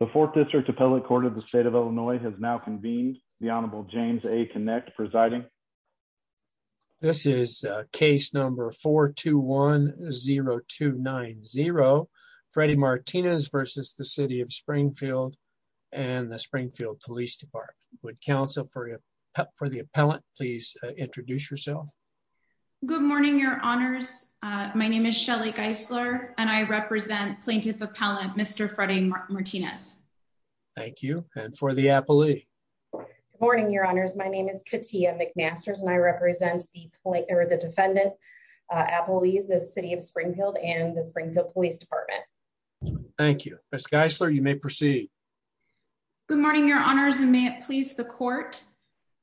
The fourth district appellate court of the state of Illinois has now convened. The Honorable James A. Kinect presiding. This is case number 421-0290, Freddie Martinez versus the City of Springfield and the Springfield Police Department. Would counsel for the appellant please introduce yourself. Good morning, your honors. My name is Shelly Geisler and I represent plaintiff appellant Mr. Freddie Martinez. Thank you and for the appellee. Good morning, your honors. My name is Katia McMasters and I represent the defendant appellees, the City of Springfield and the Springfield Police Department. Thank you. Ms. Geisler, you may proceed. Good morning, your honors and may it please the court.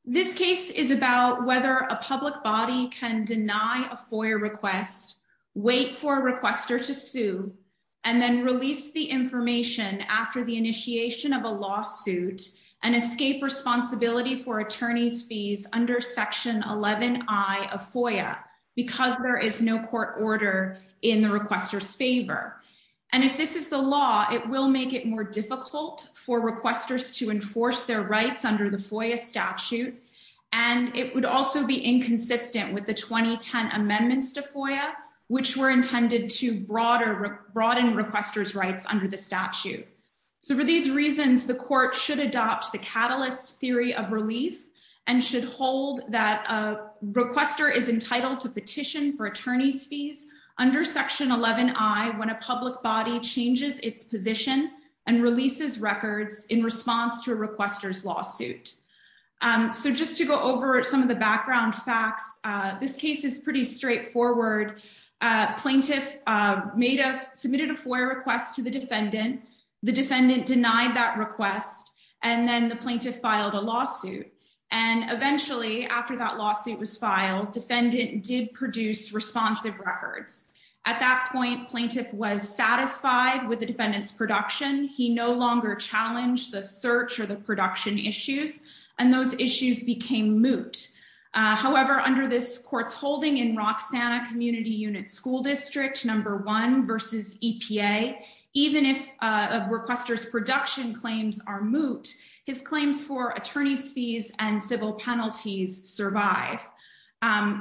This case is about whether a public body can deny a FOIA request, wait for a requester to sue, and then release the information after the initiation of a lawsuit and escape responsibility for attorney's fees under section 11i of FOIA because there is no court order in the requester's favor. And if this is the law, it will make it more difficult for requesters to enforce their the 2010 amendments to FOIA, which were intended to broaden requester's rights under the statute. So for these reasons, the court should adopt the catalyst theory of relief and should hold that a requester is entitled to petition for attorney's fees under section 11i when a public body changes its position and releases records in response to a requester's lawsuit. So just to go over some of the background facts, this case is pretty straightforward. Plaintiff made a, submitted a FOIA request to the defendant. The defendant denied that request and then the plaintiff filed a lawsuit. And eventually after that lawsuit was filed, defendant did produce responsive records. At that point, plaintiff was satisfied with and those issues became moot. However, under this court's holding in Roxanna Community Unit School District number one versus EPA, even if a requester's production claims are moot, his claims for attorney's fees and civil penalties survive.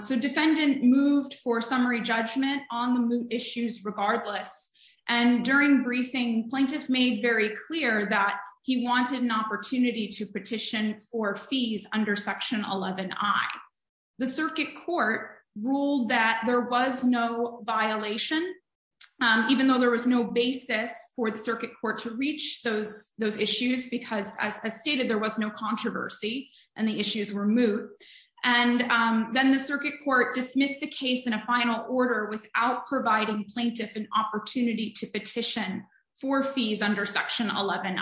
So defendant moved for summary judgment on the moot issues regardless. And during briefing, plaintiff made very clear that he wanted an opportunity to petition for fees under section 11i. The circuit court ruled that there was no violation, even though there was no basis for the circuit court to reach those issues because as stated, there was no controversy and the issues were moot. And then the circuit court dismissed the case in a final order without providing plaintiff an opportunity to petition for fees under section 11i.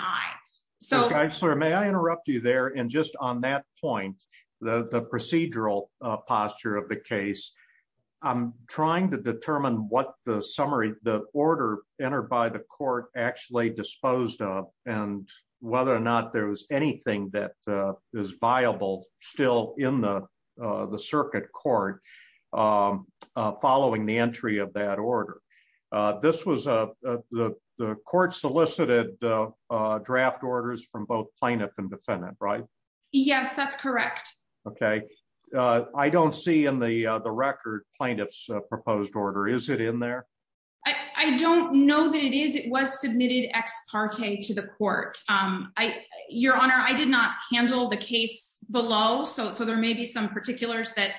So... Judge Lerner, may I interrupt you there? And just on that point, the procedural posture of the case, I'm trying to determine what the summary, the order entered by the court actually disposed of and whether or not there was anything that is viable still in the court. I don't see in the record plaintiff's proposed order. Is it in there? I don't know that it is. It was submitted ex parte to the court. Your Honor, I did not handle the case below. So there may be some particulars that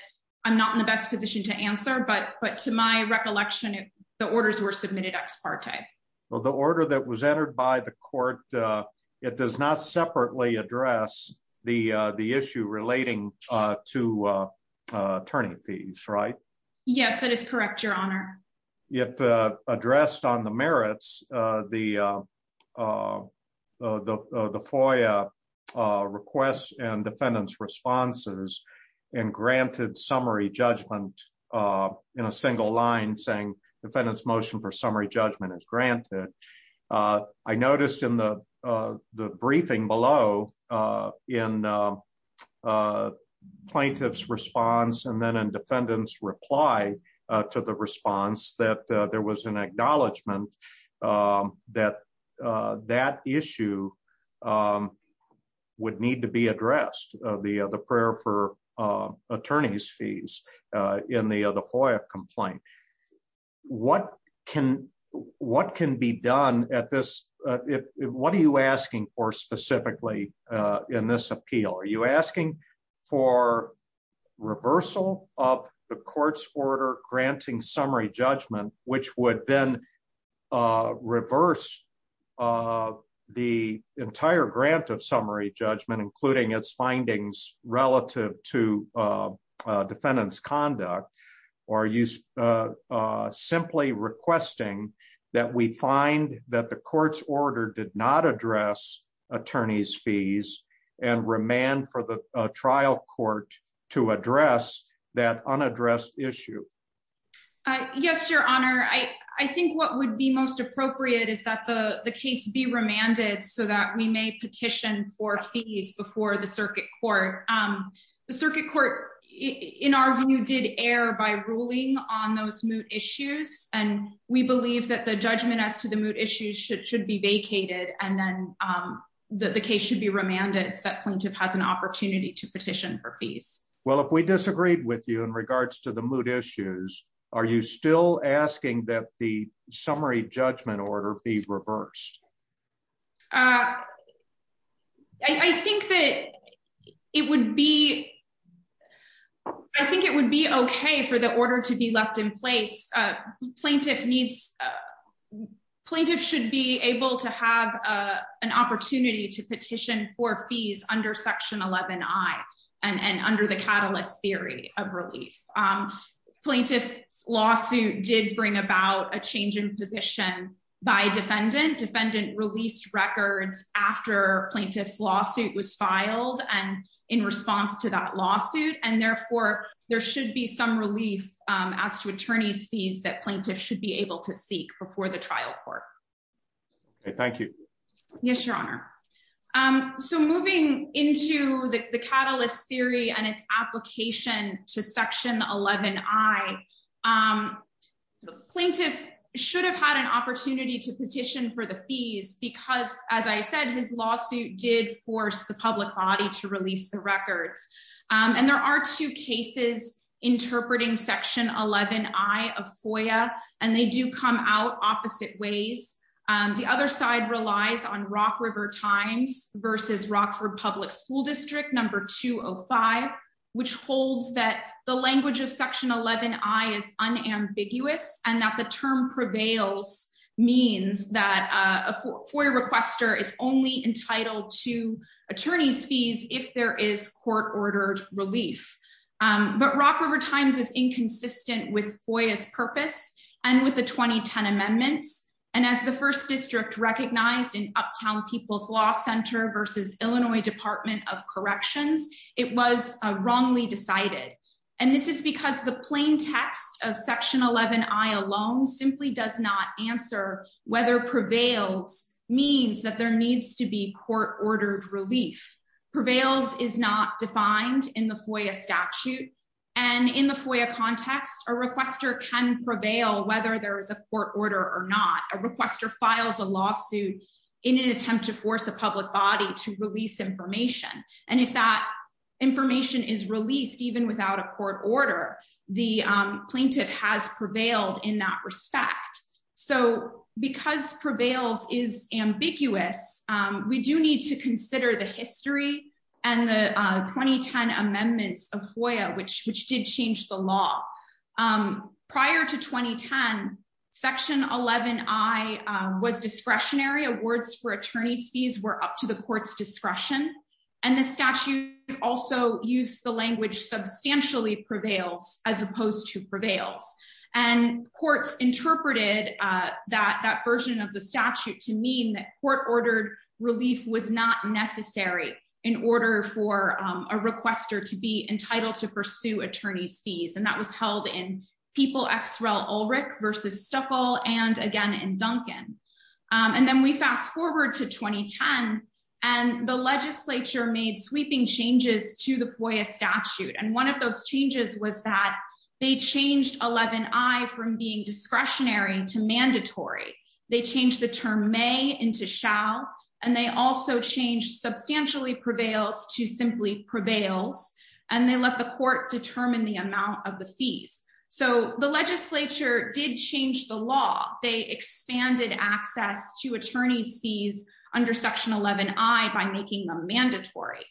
I'm not in the best position to answer. But to my recollection, the orders were submitted ex parte. Well, the order that was entered by the court, it does not separately address the issue relating to attorney fees, right? Yes, that is correct, Your Honor. It addressed on the merits, the FOIA requests and defendant's responses and granted summary judgment in a single line saying defendant's motion for summary judgment is granted. I noticed in the briefing below in plaintiff's response and then in defendant's reply to the response that there was an acknowledgment that that issue would need to be addressed, the prayer for attorney's fees in the other FOIA complaint. What can be done at this? What are you asking for specifically in this appeal? Are you asking for reversal of the court's order granting summary judgment, which would then reverse of the entire grant of summary judgment, including its findings relative to defendant's conduct? Or are you simply requesting that we find that the court's order did not address attorney's fees and remand for the trial court to address that unaddressed issue? Yes, Your Honor. I think what would be most appropriate is that the case be remanded so that we may petition for fees before the circuit court. The circuit court, in our view, did err by ruling on those moot issues and we believe that the judgment as to the moot issues should be vacated and then the case should be remanded so that plaintiff has an opportunity to petition for fees. Well, if we disagreed with you in regards to the moot issues, are you still asking that the summary judgment order be reversed? I think that it would be. I think it would be okay for the order to be left in place. Plaintiff needs plaintiff should be able to have an opportunity to petition for fees under section 11I and under the catalyst theory of relief. Plaintiff's lawsuit did bring about a change in position by defendant. Defendant released records after plaintiff's lawsuit was filed and in response to that lawsuit and therefore there should be some relief as to attorney's fees that plaintiff should be able to seek before the trial court. Thank you. Yes, Your Honor. Um, so moving into the catalyst theory and its application to section 11I, um, plaintiff should have had an opportunity to petition for the fees because as I said, his lawsuit did force the public body to release the records. Um, and there are two cases interpreting section 11I of FOIA and they do come out opposite ways. Um, the other side relies on Rock River Times versus Rockford Public School District number 205, which holds that the language of section 11I is unambiguous and that the term prevails means that a FOIA requester is only entitled to attorney's fees if there is court ordered relief. Um, but Rock River Times is inconsistent with FOIA's purpose and with the 2010 amendments and as the first district recognized in Uptown People's Law Center versus Illinois Department of Corrections, it was wrongly decided and this is because the plain text of section 11I alone simply does not answer whether prevails means that there needs to be court ordered relief. Prevails is not defined in the FOIA statute and in the FOIA context, a requester can prevail whether there is a court order or not. A requester files a lawsuit in an attempt to force a public body to release information and if that information is released even without a court order, the plaintiff has prevailed in that respect. So because prevails is ambiguous, we do need to consider the history and the 2010 amendments of FOIA, which did change the law. Prior to 2010, section 11I was discretionary. Awards for attorney's fees were up to the court's discretion and the statute also used the language substantially prevails as opposed to prevails and courts interpreted that that version of the statute to mean that court ordered relief was not necessary in order for a requester to be entitled to pursue attorney's fees and that was held in People x Rel Ulrich versus Stuckel and again in Duncan. And then we fast forward to 2010 and the legislature made sweeping changes to the FOIA statute and one of those changes was that they changed 11I from being discretionary to mandatory. They changed the term may into shall and they also changed substantially prevails to simply prevails and they let the court determine the amount of the fees. So the legislature did change the law. They expanded access to attorney's fees under section 11I by making them mandatory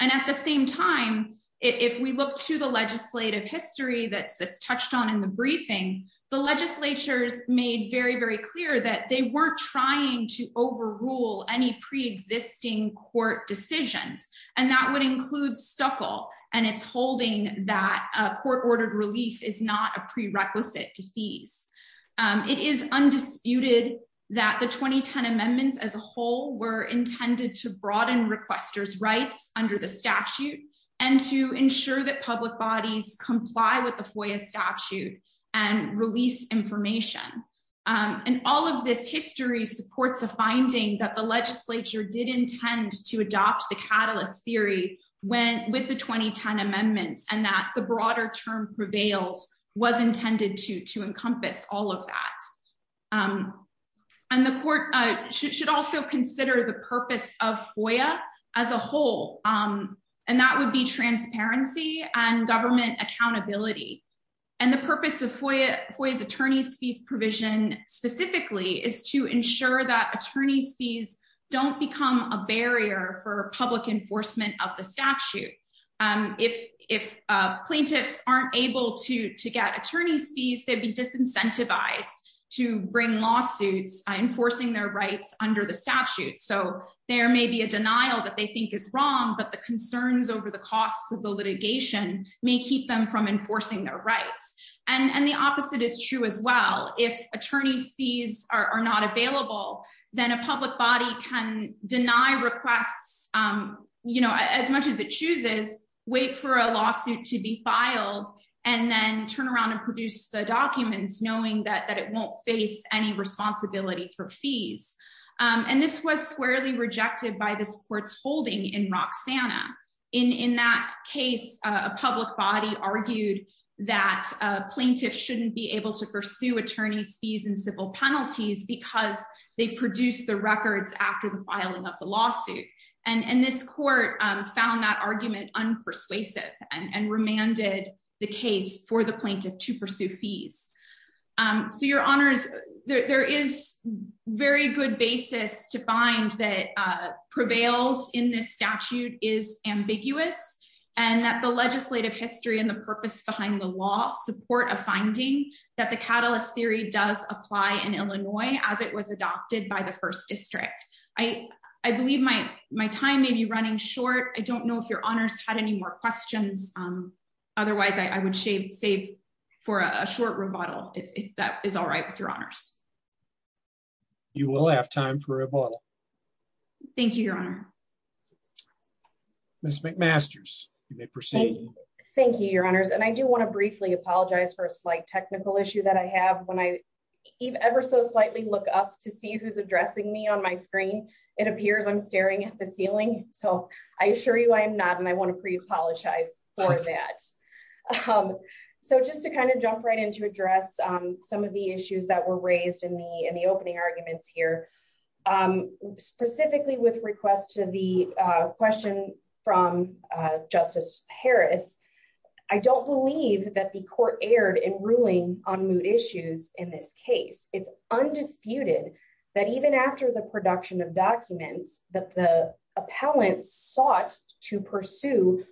and at the same time, if we look to the legislative history that's the legislature's made very, very clear that they weren't trying to overrule any pre-existing court decisions and that would include Stuckel and its holding that court ordered relief is not a prerequisite to fees. It is undisputed that the 2010 amendments as a whole were intended to broaden requester's rights under the statute and to ensure that public bodies comply with the FOIA statute and release information. And all of this history supports a finding that the legislature did intend to adopt the catalyst theory when with the 2010 amendments and that the broader term prevails was intended to to encompass all of that. And the court should also consider the purpose of and the purpose of FOIA's attorney's fees provision specifically is to ensure that attorney's fees don't become a barrier for public enforcement of the statute. If plaintiffs aren't able to to get attorney's fees they'd be disincentivized to bring lawsuits enforcing their rights under the statute. So there may be a denial that they think is wrong but the concerns over the costs of the litigation may keep them from enforcing their rights and and the opposite is true as well. If attorney's fees are not available then a public body can deny requests you know as much as it chooses wait for a lawsuit to be filed and then turn around and produce the documents knowing that that it won't face any responsibility for fees. And this was squarely in that case a public body argued that plaintiffs shouldn't be able to pursue attorney's fees and civil penalties because they produced the records after the filing of the lawsuit. And this court found that argument unpersuasive and remanded the case for the plaintiff to pursue fees. So your honors there is very good basis to find that prevails in this statute is ambiguous and that the legislative history and the purpose behind the law support a finding that the catalyst theory does apply in Illinois as it was adopted by the first district. I believe my time may be running short. I don't know if your honors had any more questions otherwise I would shave save for a short rebuttal if that is all right with your honors. You will have time for a rebuttal. Thank you your honor. Ms. McMasters you may proceed. Thank you your honors and I do want to briefly apologize for a slight technical issue that I have when I ever so slightly look up to see who's addressing me on my screen it appears I'm staring at the ceiling so I assure you I am not and I want to pre-apologize. For that so just to kind of jump right in to address some of the issues that were raised in the in the opening arguments here specifically with request to the question from Justice Harris I don't believe that the court erred in ruling on moot issues in this case. It's undisputed that even after the production of documents that the appellant sought to pursue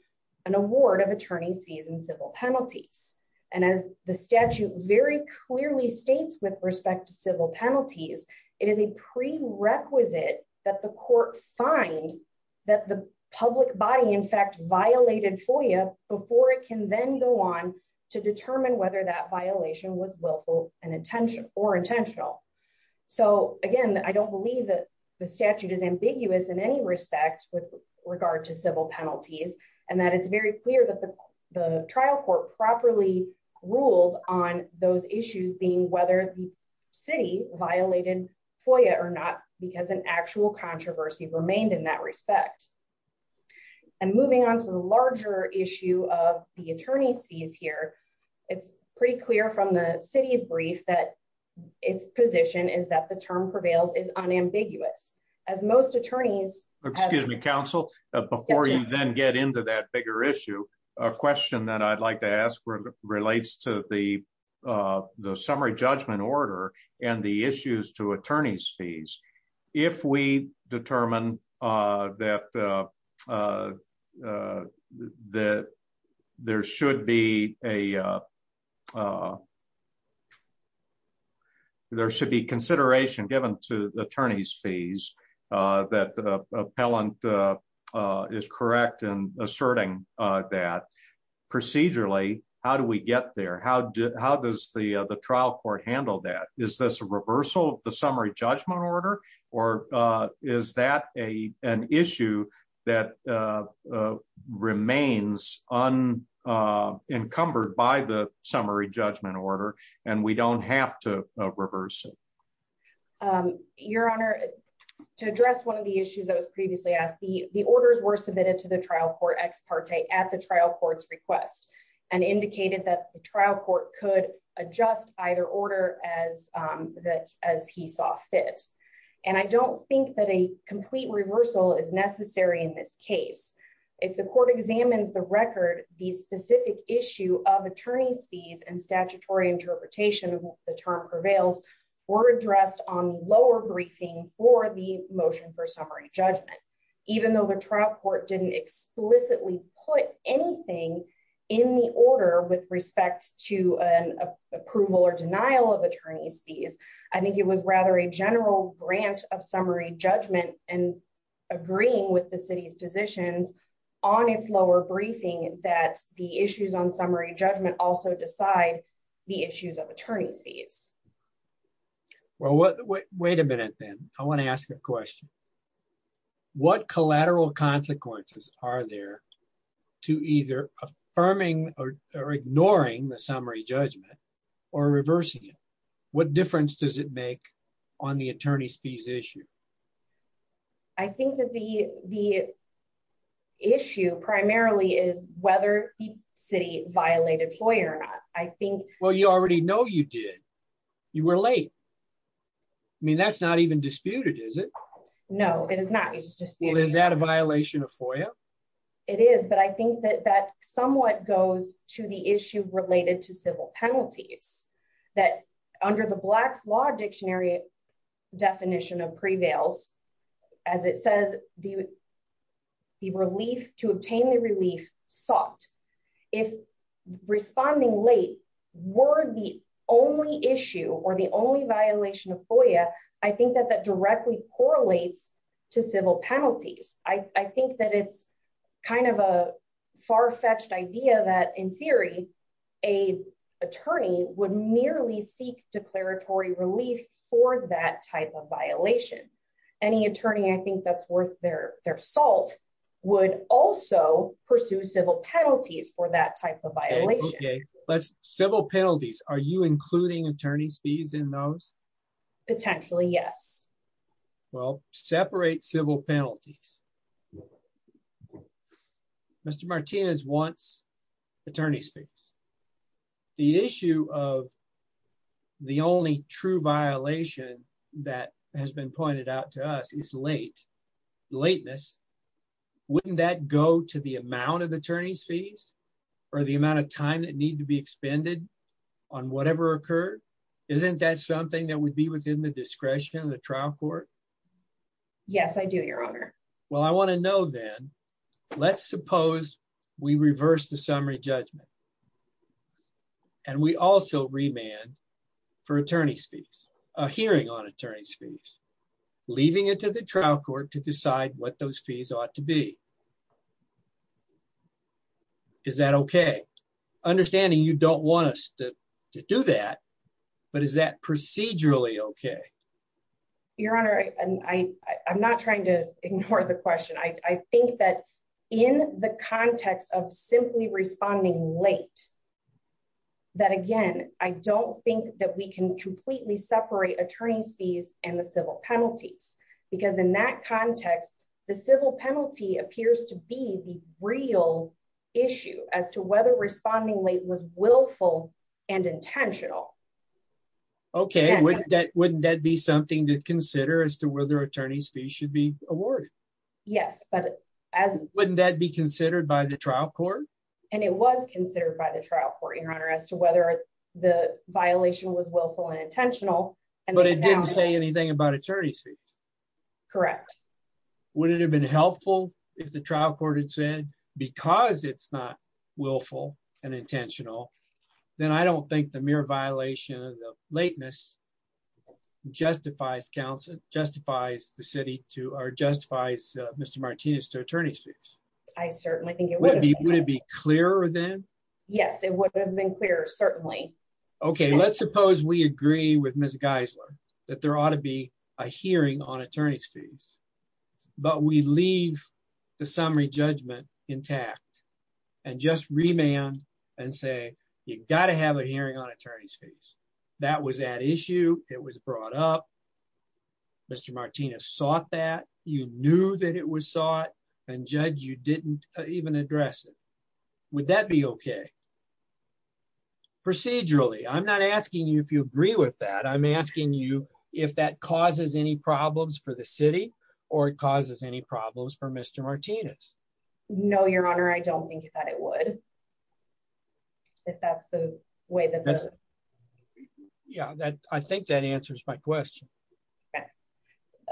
an award of attorney's fees and civil penalties and as the statute very clearly states with respect to civil penalties it is a prerequisite that the court find that the public body in fact violated FOIA before it can then go on to determine whether that violation was willful and intention or intentional. So again I don't believe that the statute is ambiguous in any respect with regard to civil penalties and that it's very clear that the the trial court properly ruled on those issues being whether the city violated FOIA or not because an actual controversy remained in that respect. And moving on to the larger issue of the attorney's fees here it's pretty clear from the city's brief that its position is that the term prevails is unambiguous as most attorneys excuse me counsel before you then get into that bigger issue a question that I'd like to ask relates to the the summary judgment order and the issues to attorney's fees. If we determine that that there should be a there should be consideration given to the attorney's fees that the appellant is correct and asserting that procedurally how do we get there? How does the the trial court handle that? Is this a reversal of the summary judgment order or is that a an issue that remains unencumbered by the summary judgment order and we don't have to reverse it? Your honor to address one of the issues that was previously asked the the orders were submitted to the trial court ex parte at the trial court's request and indicated that the trial court could adjust either order as that as he saw fit and I don't think that a complete reversal is necessary in this case. If the court examines the record the specific issue of attorney's fees and statutory interpretation the term prevails were addressed on lower briefing for the motion for summary judgment even though the trial court didn't explicitly put anything in the order with respect to an approval or denial of attorney's fees I think it was rather a general grant of summary judgment and agreeing with the city's positions on its lower briefing that the issues on summary judgment also decide the issues of attorney's fees. Well what wait a minute then I want to ask a question what collateral consequences are there to either affirming or ignoring the summary judgment or reversing it what difference does it make on the attorney's fees issue? I think that the the issue primarily is whether the city violated FOIA or not I think well you already know you did you were late I mean that's not even disputed is it no it is not it's just well is that a violation of FOIA? It is but I think that that somewhat goes to the issue related to civil penalties that under the blacks law dictionary definition of prevails as it says the the relief to obtain the relief sought if responding late were the only issue or the kind of a far-fetched idea that in theory a attorney would merely seek declaratory relief for that type of violation any attorney I think that's worth their their salt would also pursue civil penalties for that type of violation. Okay let's civil penalties are you including attorney's in those? Potentially yes. Well separate civil penalties Mr. Martinez wants attorney's fees the issue of the only true violation that has been pointed out to us is late lateness wouldn't that go to the amount of attorney's fees or the amount of time that be expended on whatever occurred isn't that something that would be within the discretion of the trial court? Yes I do your honor. Well I want to know then let's suppose we reverse the summary judgment and we also remand for attorney's fees a hearing on attorney's fees leaving it to trial court to decide what those fees ought to be. Is that okay? Understanding you don't want us to to do that but is that procedurally okay? Your honor I'm not trying to ignore the question I think that in the context of simply responding late that again I don't think that we can completely separate attorney's fees and the civil penalties because in that context the civil penalty appears to be the real issue as to whether responding late was willful and intentional. Okay wouldn't that wouldn't that be something to consider as to whether attorney's fees should be awarded? Yes but as wouldn't that be considered by the trial court? And it was considered by the But it didn't say anything about attorney's fees? Correct. Would it have been helpful if the trial court had said because it's not willful and intentional then I don't think the mere violation of the lateness justifies counsel justifies the city to or justifies Mr. Martinez to attorney's fees? I certainly think it would be. Would it be clearer then? Yes it would have been clearer certainly. Okay let's suppose we agree with Ms. Geisler that there ought to be a hearing on attorney's fees but we leave the summary judgment intact and just remand and say you got to have a hearing on attorney's fees that was at issue it was brought up Mr. Martinez sought that you knew that it was sought and judge you didn't even address it. Would that be okay? Procedurally I'm not asking you if you agree with that I'm asking you if that causes any problems for the city or it causes any problems for Mr. Martinez? No your honor I don't think that it would if that's the way that yeah that I think that answers my question. Okay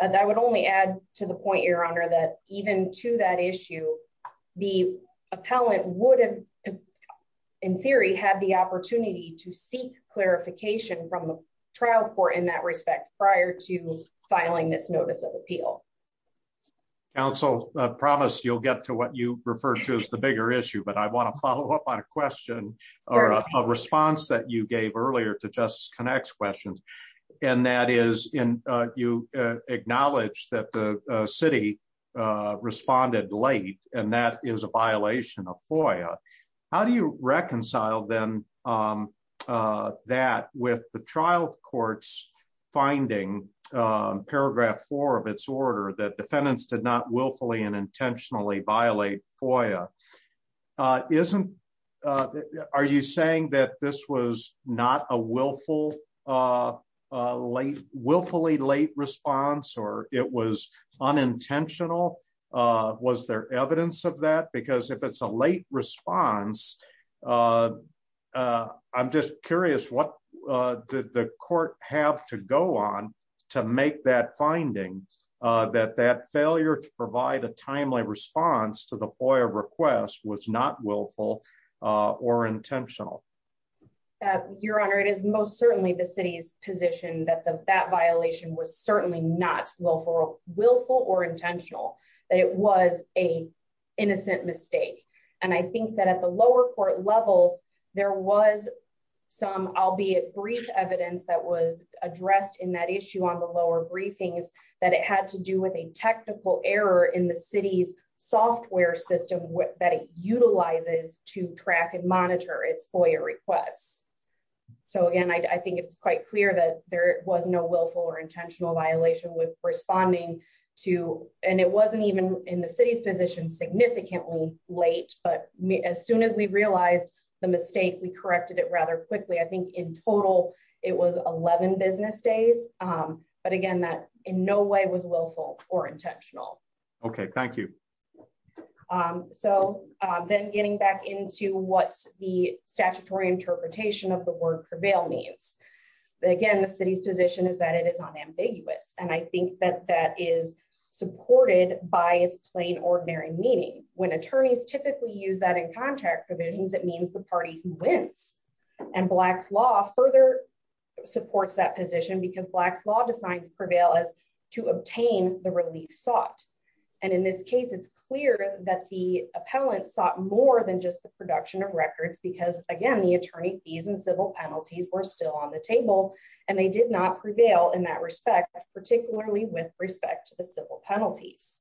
and I would only add to the point your honor that even to that issue the appellant would have in theory had the opportunity to seek clarification from the trial court in that respect prior to filing this notice of appeal. Counsel I promise you'll get to what you refer to as the bigger issue but I want to follow up on a question or a response that you gave earlier to you acknowledged that the city responded late and that is a violation of FOIA. How do you reconcile then that with the trial court's finding paragraph four of its order that defendants did not willfully and intentionally violate FOIA? Isn't are you saying that this was not a willful late willfully late response or it was unintentional? Was there evidence of that because if it's a late response I'm just curious what did the court have to go on to make that finding that that failure to provide a timely response to the FOIA request was not willful or intentional? Your honor it is most was certainly not willful or intentional that it was a innocent mistake and I think that at the lower court level there was some albeit brief evidence that was addressed in that issue on the lower briefings that it had to do with a technical error in the city's software system that it utilizes to track and monitor its FOIA requests. So again I think it's quite clear that there was no willful or intentional violation with responding to and it wasn't even in the city's position significantly late but as soon as we realized the mistake we corrected it rather quickly. I think in total it was 11 business days but again that in no way was willful or intentional. Okay thank you. So then getting back into what's the statutory interpretation of the word prevail means. Again the city's position is that it is unambiguous and I think that that is supported by its plain ordinary meaning. When attorneys typically use that in contract provisions it means the party wins and Black's law further supports that position because Black's law defines prevail as to obtain the relief sought and in this case it's clear that the appellant sought more than just the production of records because again the attorney fees and civil penalties were still on the table and they did not prevail in that respect particularly with respect to the civil penalties.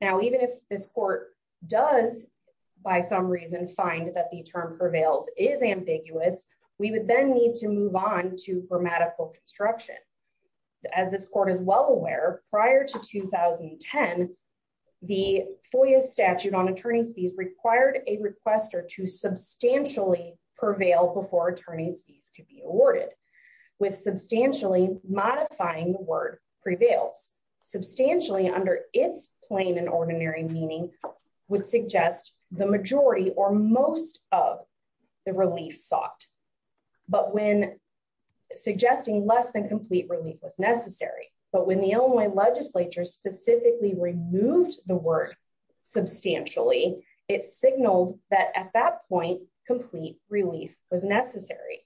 Now even if this court does by some reason find that the term prevails is ambiguous we would then need to move on to grammatical construction. As this court is well aware prior to 2010 the FOIA statute on attorney's fees required a requester to substantially prevail before attorney's fees could be awarded with substantially modifying the word prevails substantially under its plain and ordinary meaning would suggest the majority or most of the relief sought but when suggesting less than complete relief was necessary but when the Illinois legislature specifically removed the word substantially it signaled that at that point complete relief was necessary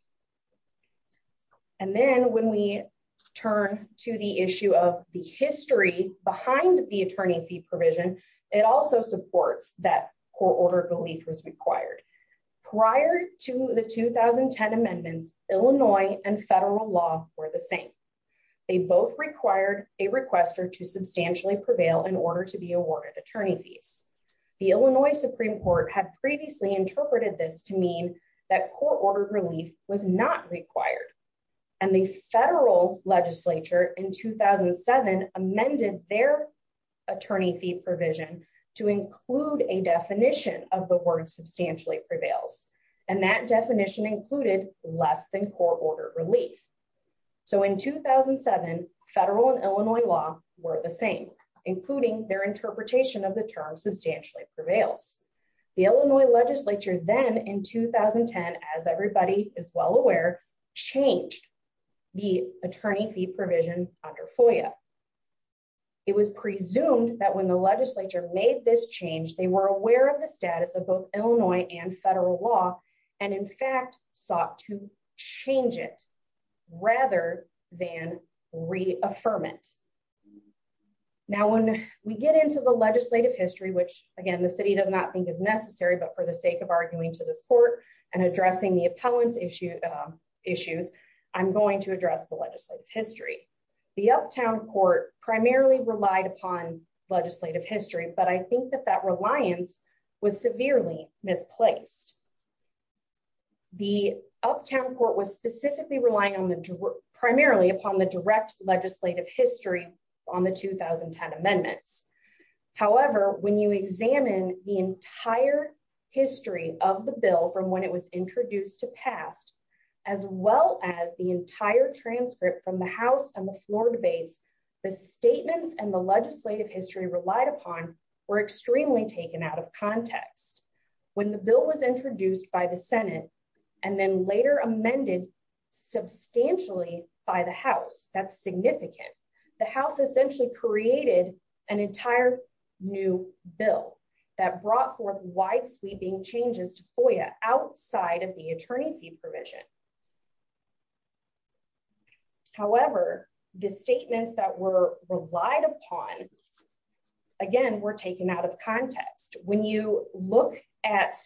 and then when we turn to the issue of the history behind the attorney fee provision it also supports that court order belief was required. Prior to the 2010 amendments Illinois and federal law were the same. They both required a requester to substantially prevail in order to be awarded attorney fees. The Illinois Supreme Court had previously interpreted this to mean that court ordered relief was not required and the federal legislature in 2007 amended their attorney fee provision to include a definition of the word substantially prevails and that relief so in 2007 federal and Illinois law were the same including their interpretation of the term substantially prevails. The Illinois legislature then in 2010 as everybody is well aware changed the attorney fee provision under FOIA. It was presumed that when the legislature made this change they were aware of the status of both Illinois and federal law and in fact sought to change it rather than reaffirm it. Now when we get into the legislative history which again the city does not think is necessary but for the sake of arguing to this court and addressing the opponents issue issues I'm going to address the legislative history. The uptown court primarily relied upon legislative history but I think that that reliance was severely misplaced. The uptown court was specifically relying on the primarily upon the direct legislative history on the 2010 amendments. However when you examine the entire history of the bill from when it was introduced to past as well as the entire transcript from the house and the floor debates the statements and the legislative history relied upon were extremely taken out of context. When the bill was introduced by the senate and then later amended substantially by the house that's significant. The house essentially created an entire new bill that brought forth wide-sweeping changes to FOIA outside of the attorney fee provision. However the statements that were relied upon again were taken out of context. When you look at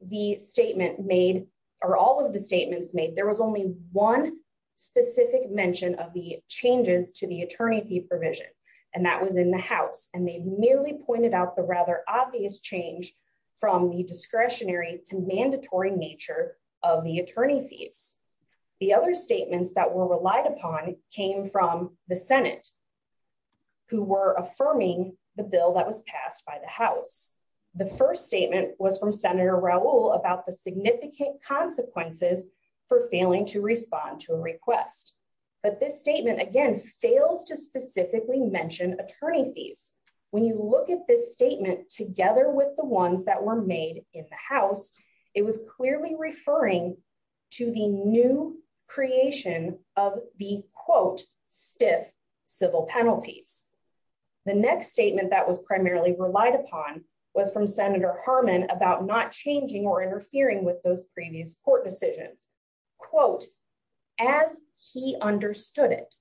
the statement made or all of the statements made there was only one specific mention of the changes to the attorney fee provision and that was in the house and they merely pointed out the rather obvious change from the discretionary to mandatory nature of the attorney fees. The other statements that were relied upon came from the senate who were affirming the bill that was passed by the house. The first statement was from senator Raul about the significant consequences for failing to respond to a request but this statement again fails to specifically mention attorney fees. When you look at this statement together with the ones that were made in the house it was clearly referring to the new creation of the quote stiff civil penalties. The next statement that was primarily relied upon was from senator Harmon about not changing or interfering with those previous court decisions quote as he understood it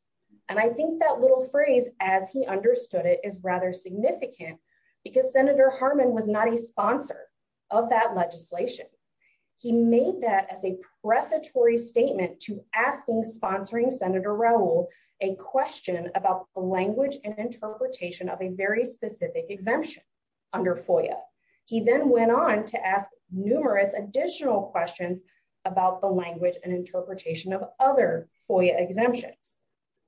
and I think that little phrase as he understood it is rather significant because senator Harmon was not a sponsor of that legislation. He made that as a prefatory statement to asking sponsoring senator Raul a question about the language and interpretation of a very specific exemption under FOIA. He then went on to ask numerous additional questions about the language and interpretation of other FOIA exemptions.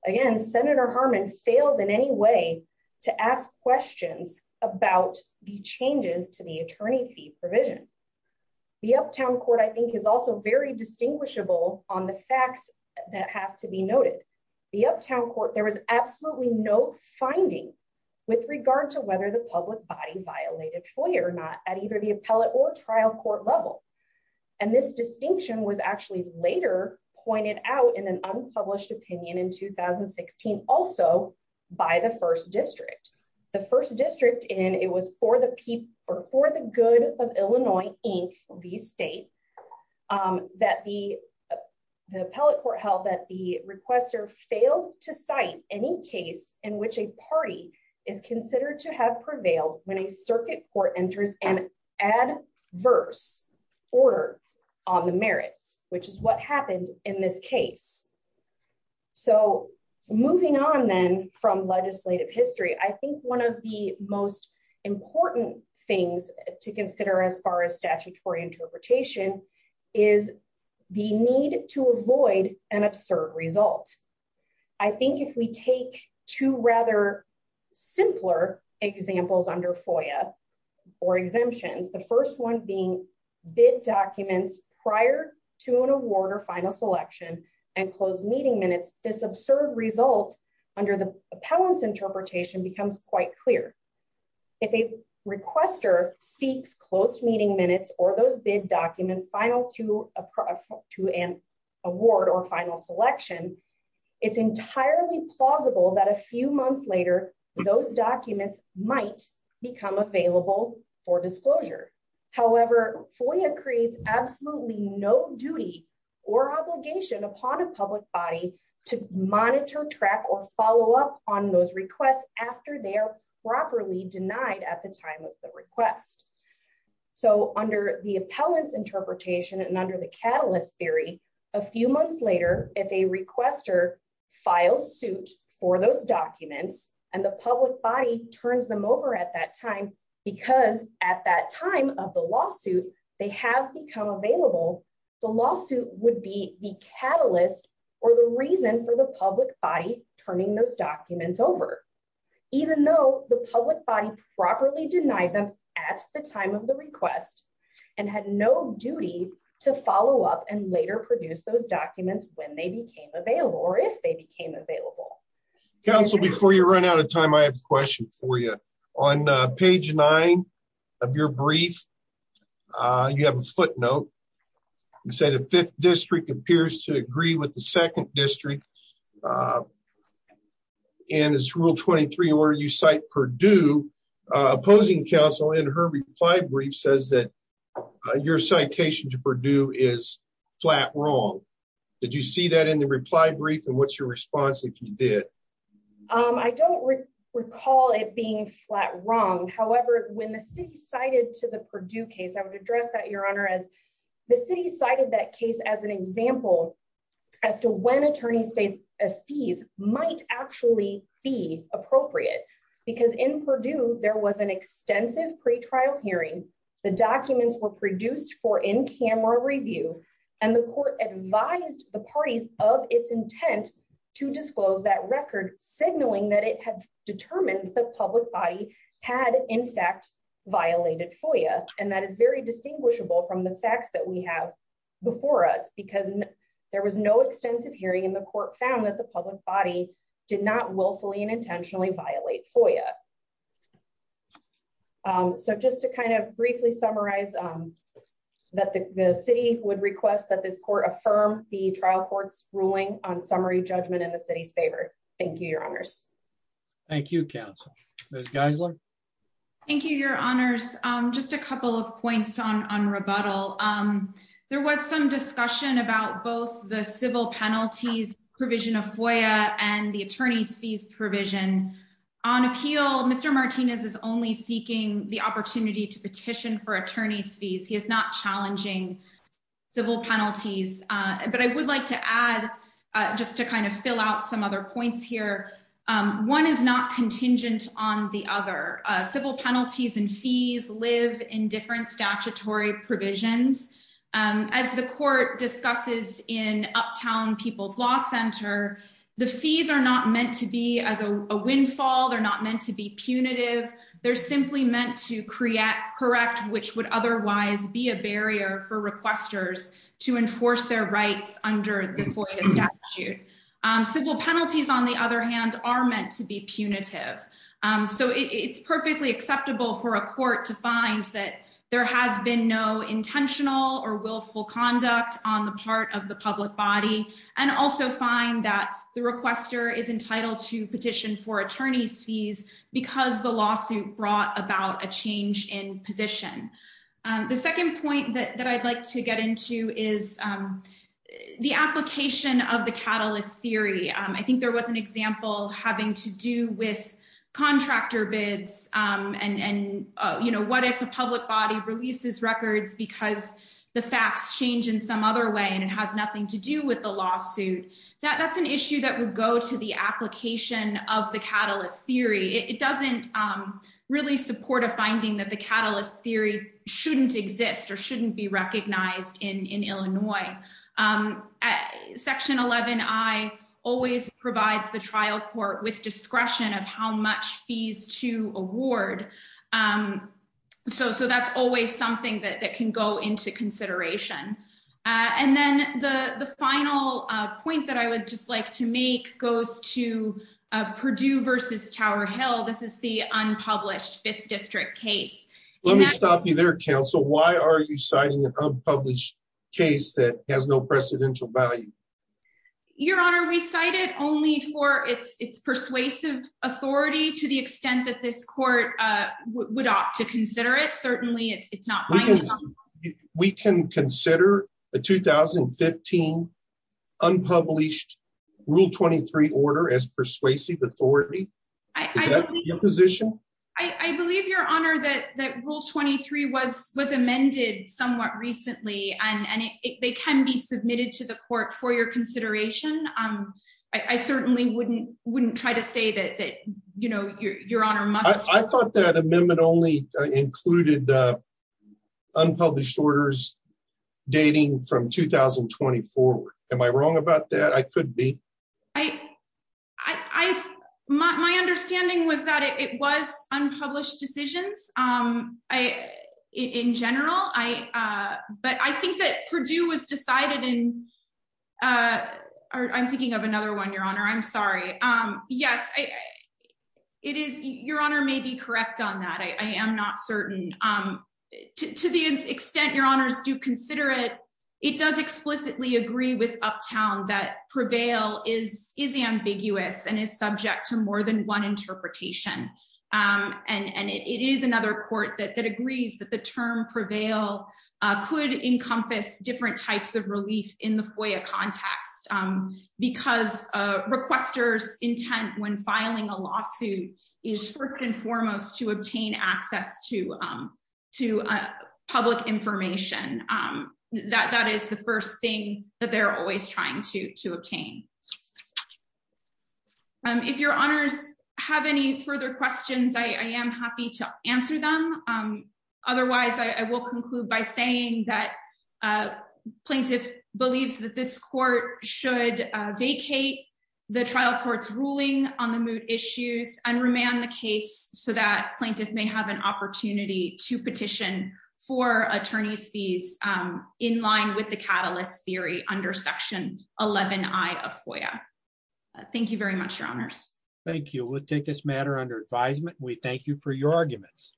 Again senator Harmon failed in any way to ask questions about the changes to the attorney fee provision. The uptown court I think is also very distinguishable on the facts that have to be noted. The uptown court there was absolutely no finding with regard to whether the public body violated FOIA or not at either the appellate or trial court level and this distinction was actually later pointed out in an unpublished opinion in 2016 also by the first district. The first district in it was for the people for the good of Illinois Inc the state that the appellate court held that the requester failed to cite any case in which a party is considered to have prevailed when a happened in this case. So moving on then from legislative history I think one of the most important things to consider as far as statutory interpretation is the need to avoid an absurd result. I think if we take two rather simpler examples under FOIA or exemptions the first one being bid documents prior to an award or final selection and closed meeting minutes this absurd result under the appellant's interpretation becomes quite clear. If a requester seeks closed meeting minutes or those bid documents final to a to an award or final selection it's entirely plausible that a few months later those documents might become available for disclosure. However, FOIA creates absolutely no duty or obligation upon a public body to monitor track or follow up on those requests after they are properly denied at the time of the request. So under the appellant's interpretation and under the catalyst theory a few months later if a requester files suit for those documents and the public body turns them over at that time because at that time of the lawsuit they have become available the lawsuit would be the catalyst or the reason for the public body turning those documents over even though the public body properly denied them at the time of the request and had no duty to follow up and later produce those documents when they became available or if they became available. Council before you run out of time I have a question for you on page nine of your brief you have a footnote you say the fifth district appears to agree with the second district and it's rule 23 where you cite Purdue opposing counsel in her reply brief says that your citation to Purdue is flat wrong did you see that in the reply brief and what's your response if you did? I don't recall it being flat wrong however when the city cited to the Purdue case I would address that your honor as the city cited that case as an example as to when attorneys face a fees might actually be appropriate because in Purdue there was an extensive pre-trial hearing the documents were produced for in-camera review and the court advised the parties of its intent to disclose that record signaling that it had determined the public body had in fact violated FOIA and that is very distinguishable from the facts that we have before us because there was no extensive hearing the court found that the public body did not willfully and intentionally violate FOIA. So just to kind of briefly summarize that the city would request that this court affirm the trial court's ruling on summary judgment in the city's favor thank you your honors. Thank you counsel. Ms. Geisler. Thank you your honors just a couple of points on on rebuttal there was some discussion about both the civil penalties provision of FOIA and the attorney's fees provision on appeal Mr. Martinez is only seeking the opportunity to petition for attorney's fees he is not challenging civil penalties but I would like to add just to kind of fill out some other points here one is not contingent on the other civil penalties and fees live in different statutory provisions as the court discusses in uptown people's law center the fees are not meant to be as a windfall they're not meant to be punitive they're simply meant to create correct which would otherwise be a barrier for requesters to enforce their rights under the FOIA statute civil penalties on the other hand are meant to be punitive so it's perfectly acceptable for a court to find that there has been no intentional or willful conduct on the part of the public body and also find that the requester is entitled to petition for attorney's fees because the lawsuit brought about a change in position the second point that I'd like to get into is the application of the catalyst theory I think there was an example having to do with contractor bids and you know what if the public body releases records because the facts change in some other way and it has nothing to do with the lawsuit that's an issue that would go to the application of the catalyst theory it doesn't really support a finding that the catalyst theory shouldn't exist or shouldn't be recognized in in Illinois section 11i always provides the trial court with discretion of how much fees to award so so that's always something that that can go into consideration and then the the final point that I would just like to make goes to Perdue versus Tower Hill this is the unpublished fifth district case let me stop you there counsel why are you citing an unpublished case that has no precedential value your honor we cite it only for its its persuasive authority to the extent that this court uh would opt to consider it certainly it's not we can consider the 2015 unpublished rule 23 order as persuasive authority is that your position I I believe your honor that that rule 23 was was amended somewhat recently and and it they can be submitted to the court for your consideration um I certainly wouldn't wouldn't try to say that that you know your honor must I thought that amendment only included uh unpublished orders dating from 2020 forward am I wrong about that I could be I I I my understanding was that it was unpublished decisions um I in general I uh but I think that Perdue was decided in uh I'm thinking of another one your honor I'm sorry um yes I it is your honor may be correct on that I I am not certain um to the extent your honors do consider it it does explicitly agree with uptown that prevail is is ambiguous and is subject to could encompass different types of relief in the FOIA context um because uh requesters intent when filing a lawsuit is first and foremost to obtain access to um to uh public information um that that is the first thing that they're always trying to to obtain um if your honors have any further questions I am happy to answer them um otherwise I will conclude by saying that uh plaintiff believes that this court should vacate the trial court's ruling on the moot issues and remand the case so that plaintiff may have an opportunity to petition for attorney's fees um in line with the catalyst theory under section 11i of FOIA thank you very much your honors thank you we'll take this matter under advisement we thank you for your arguments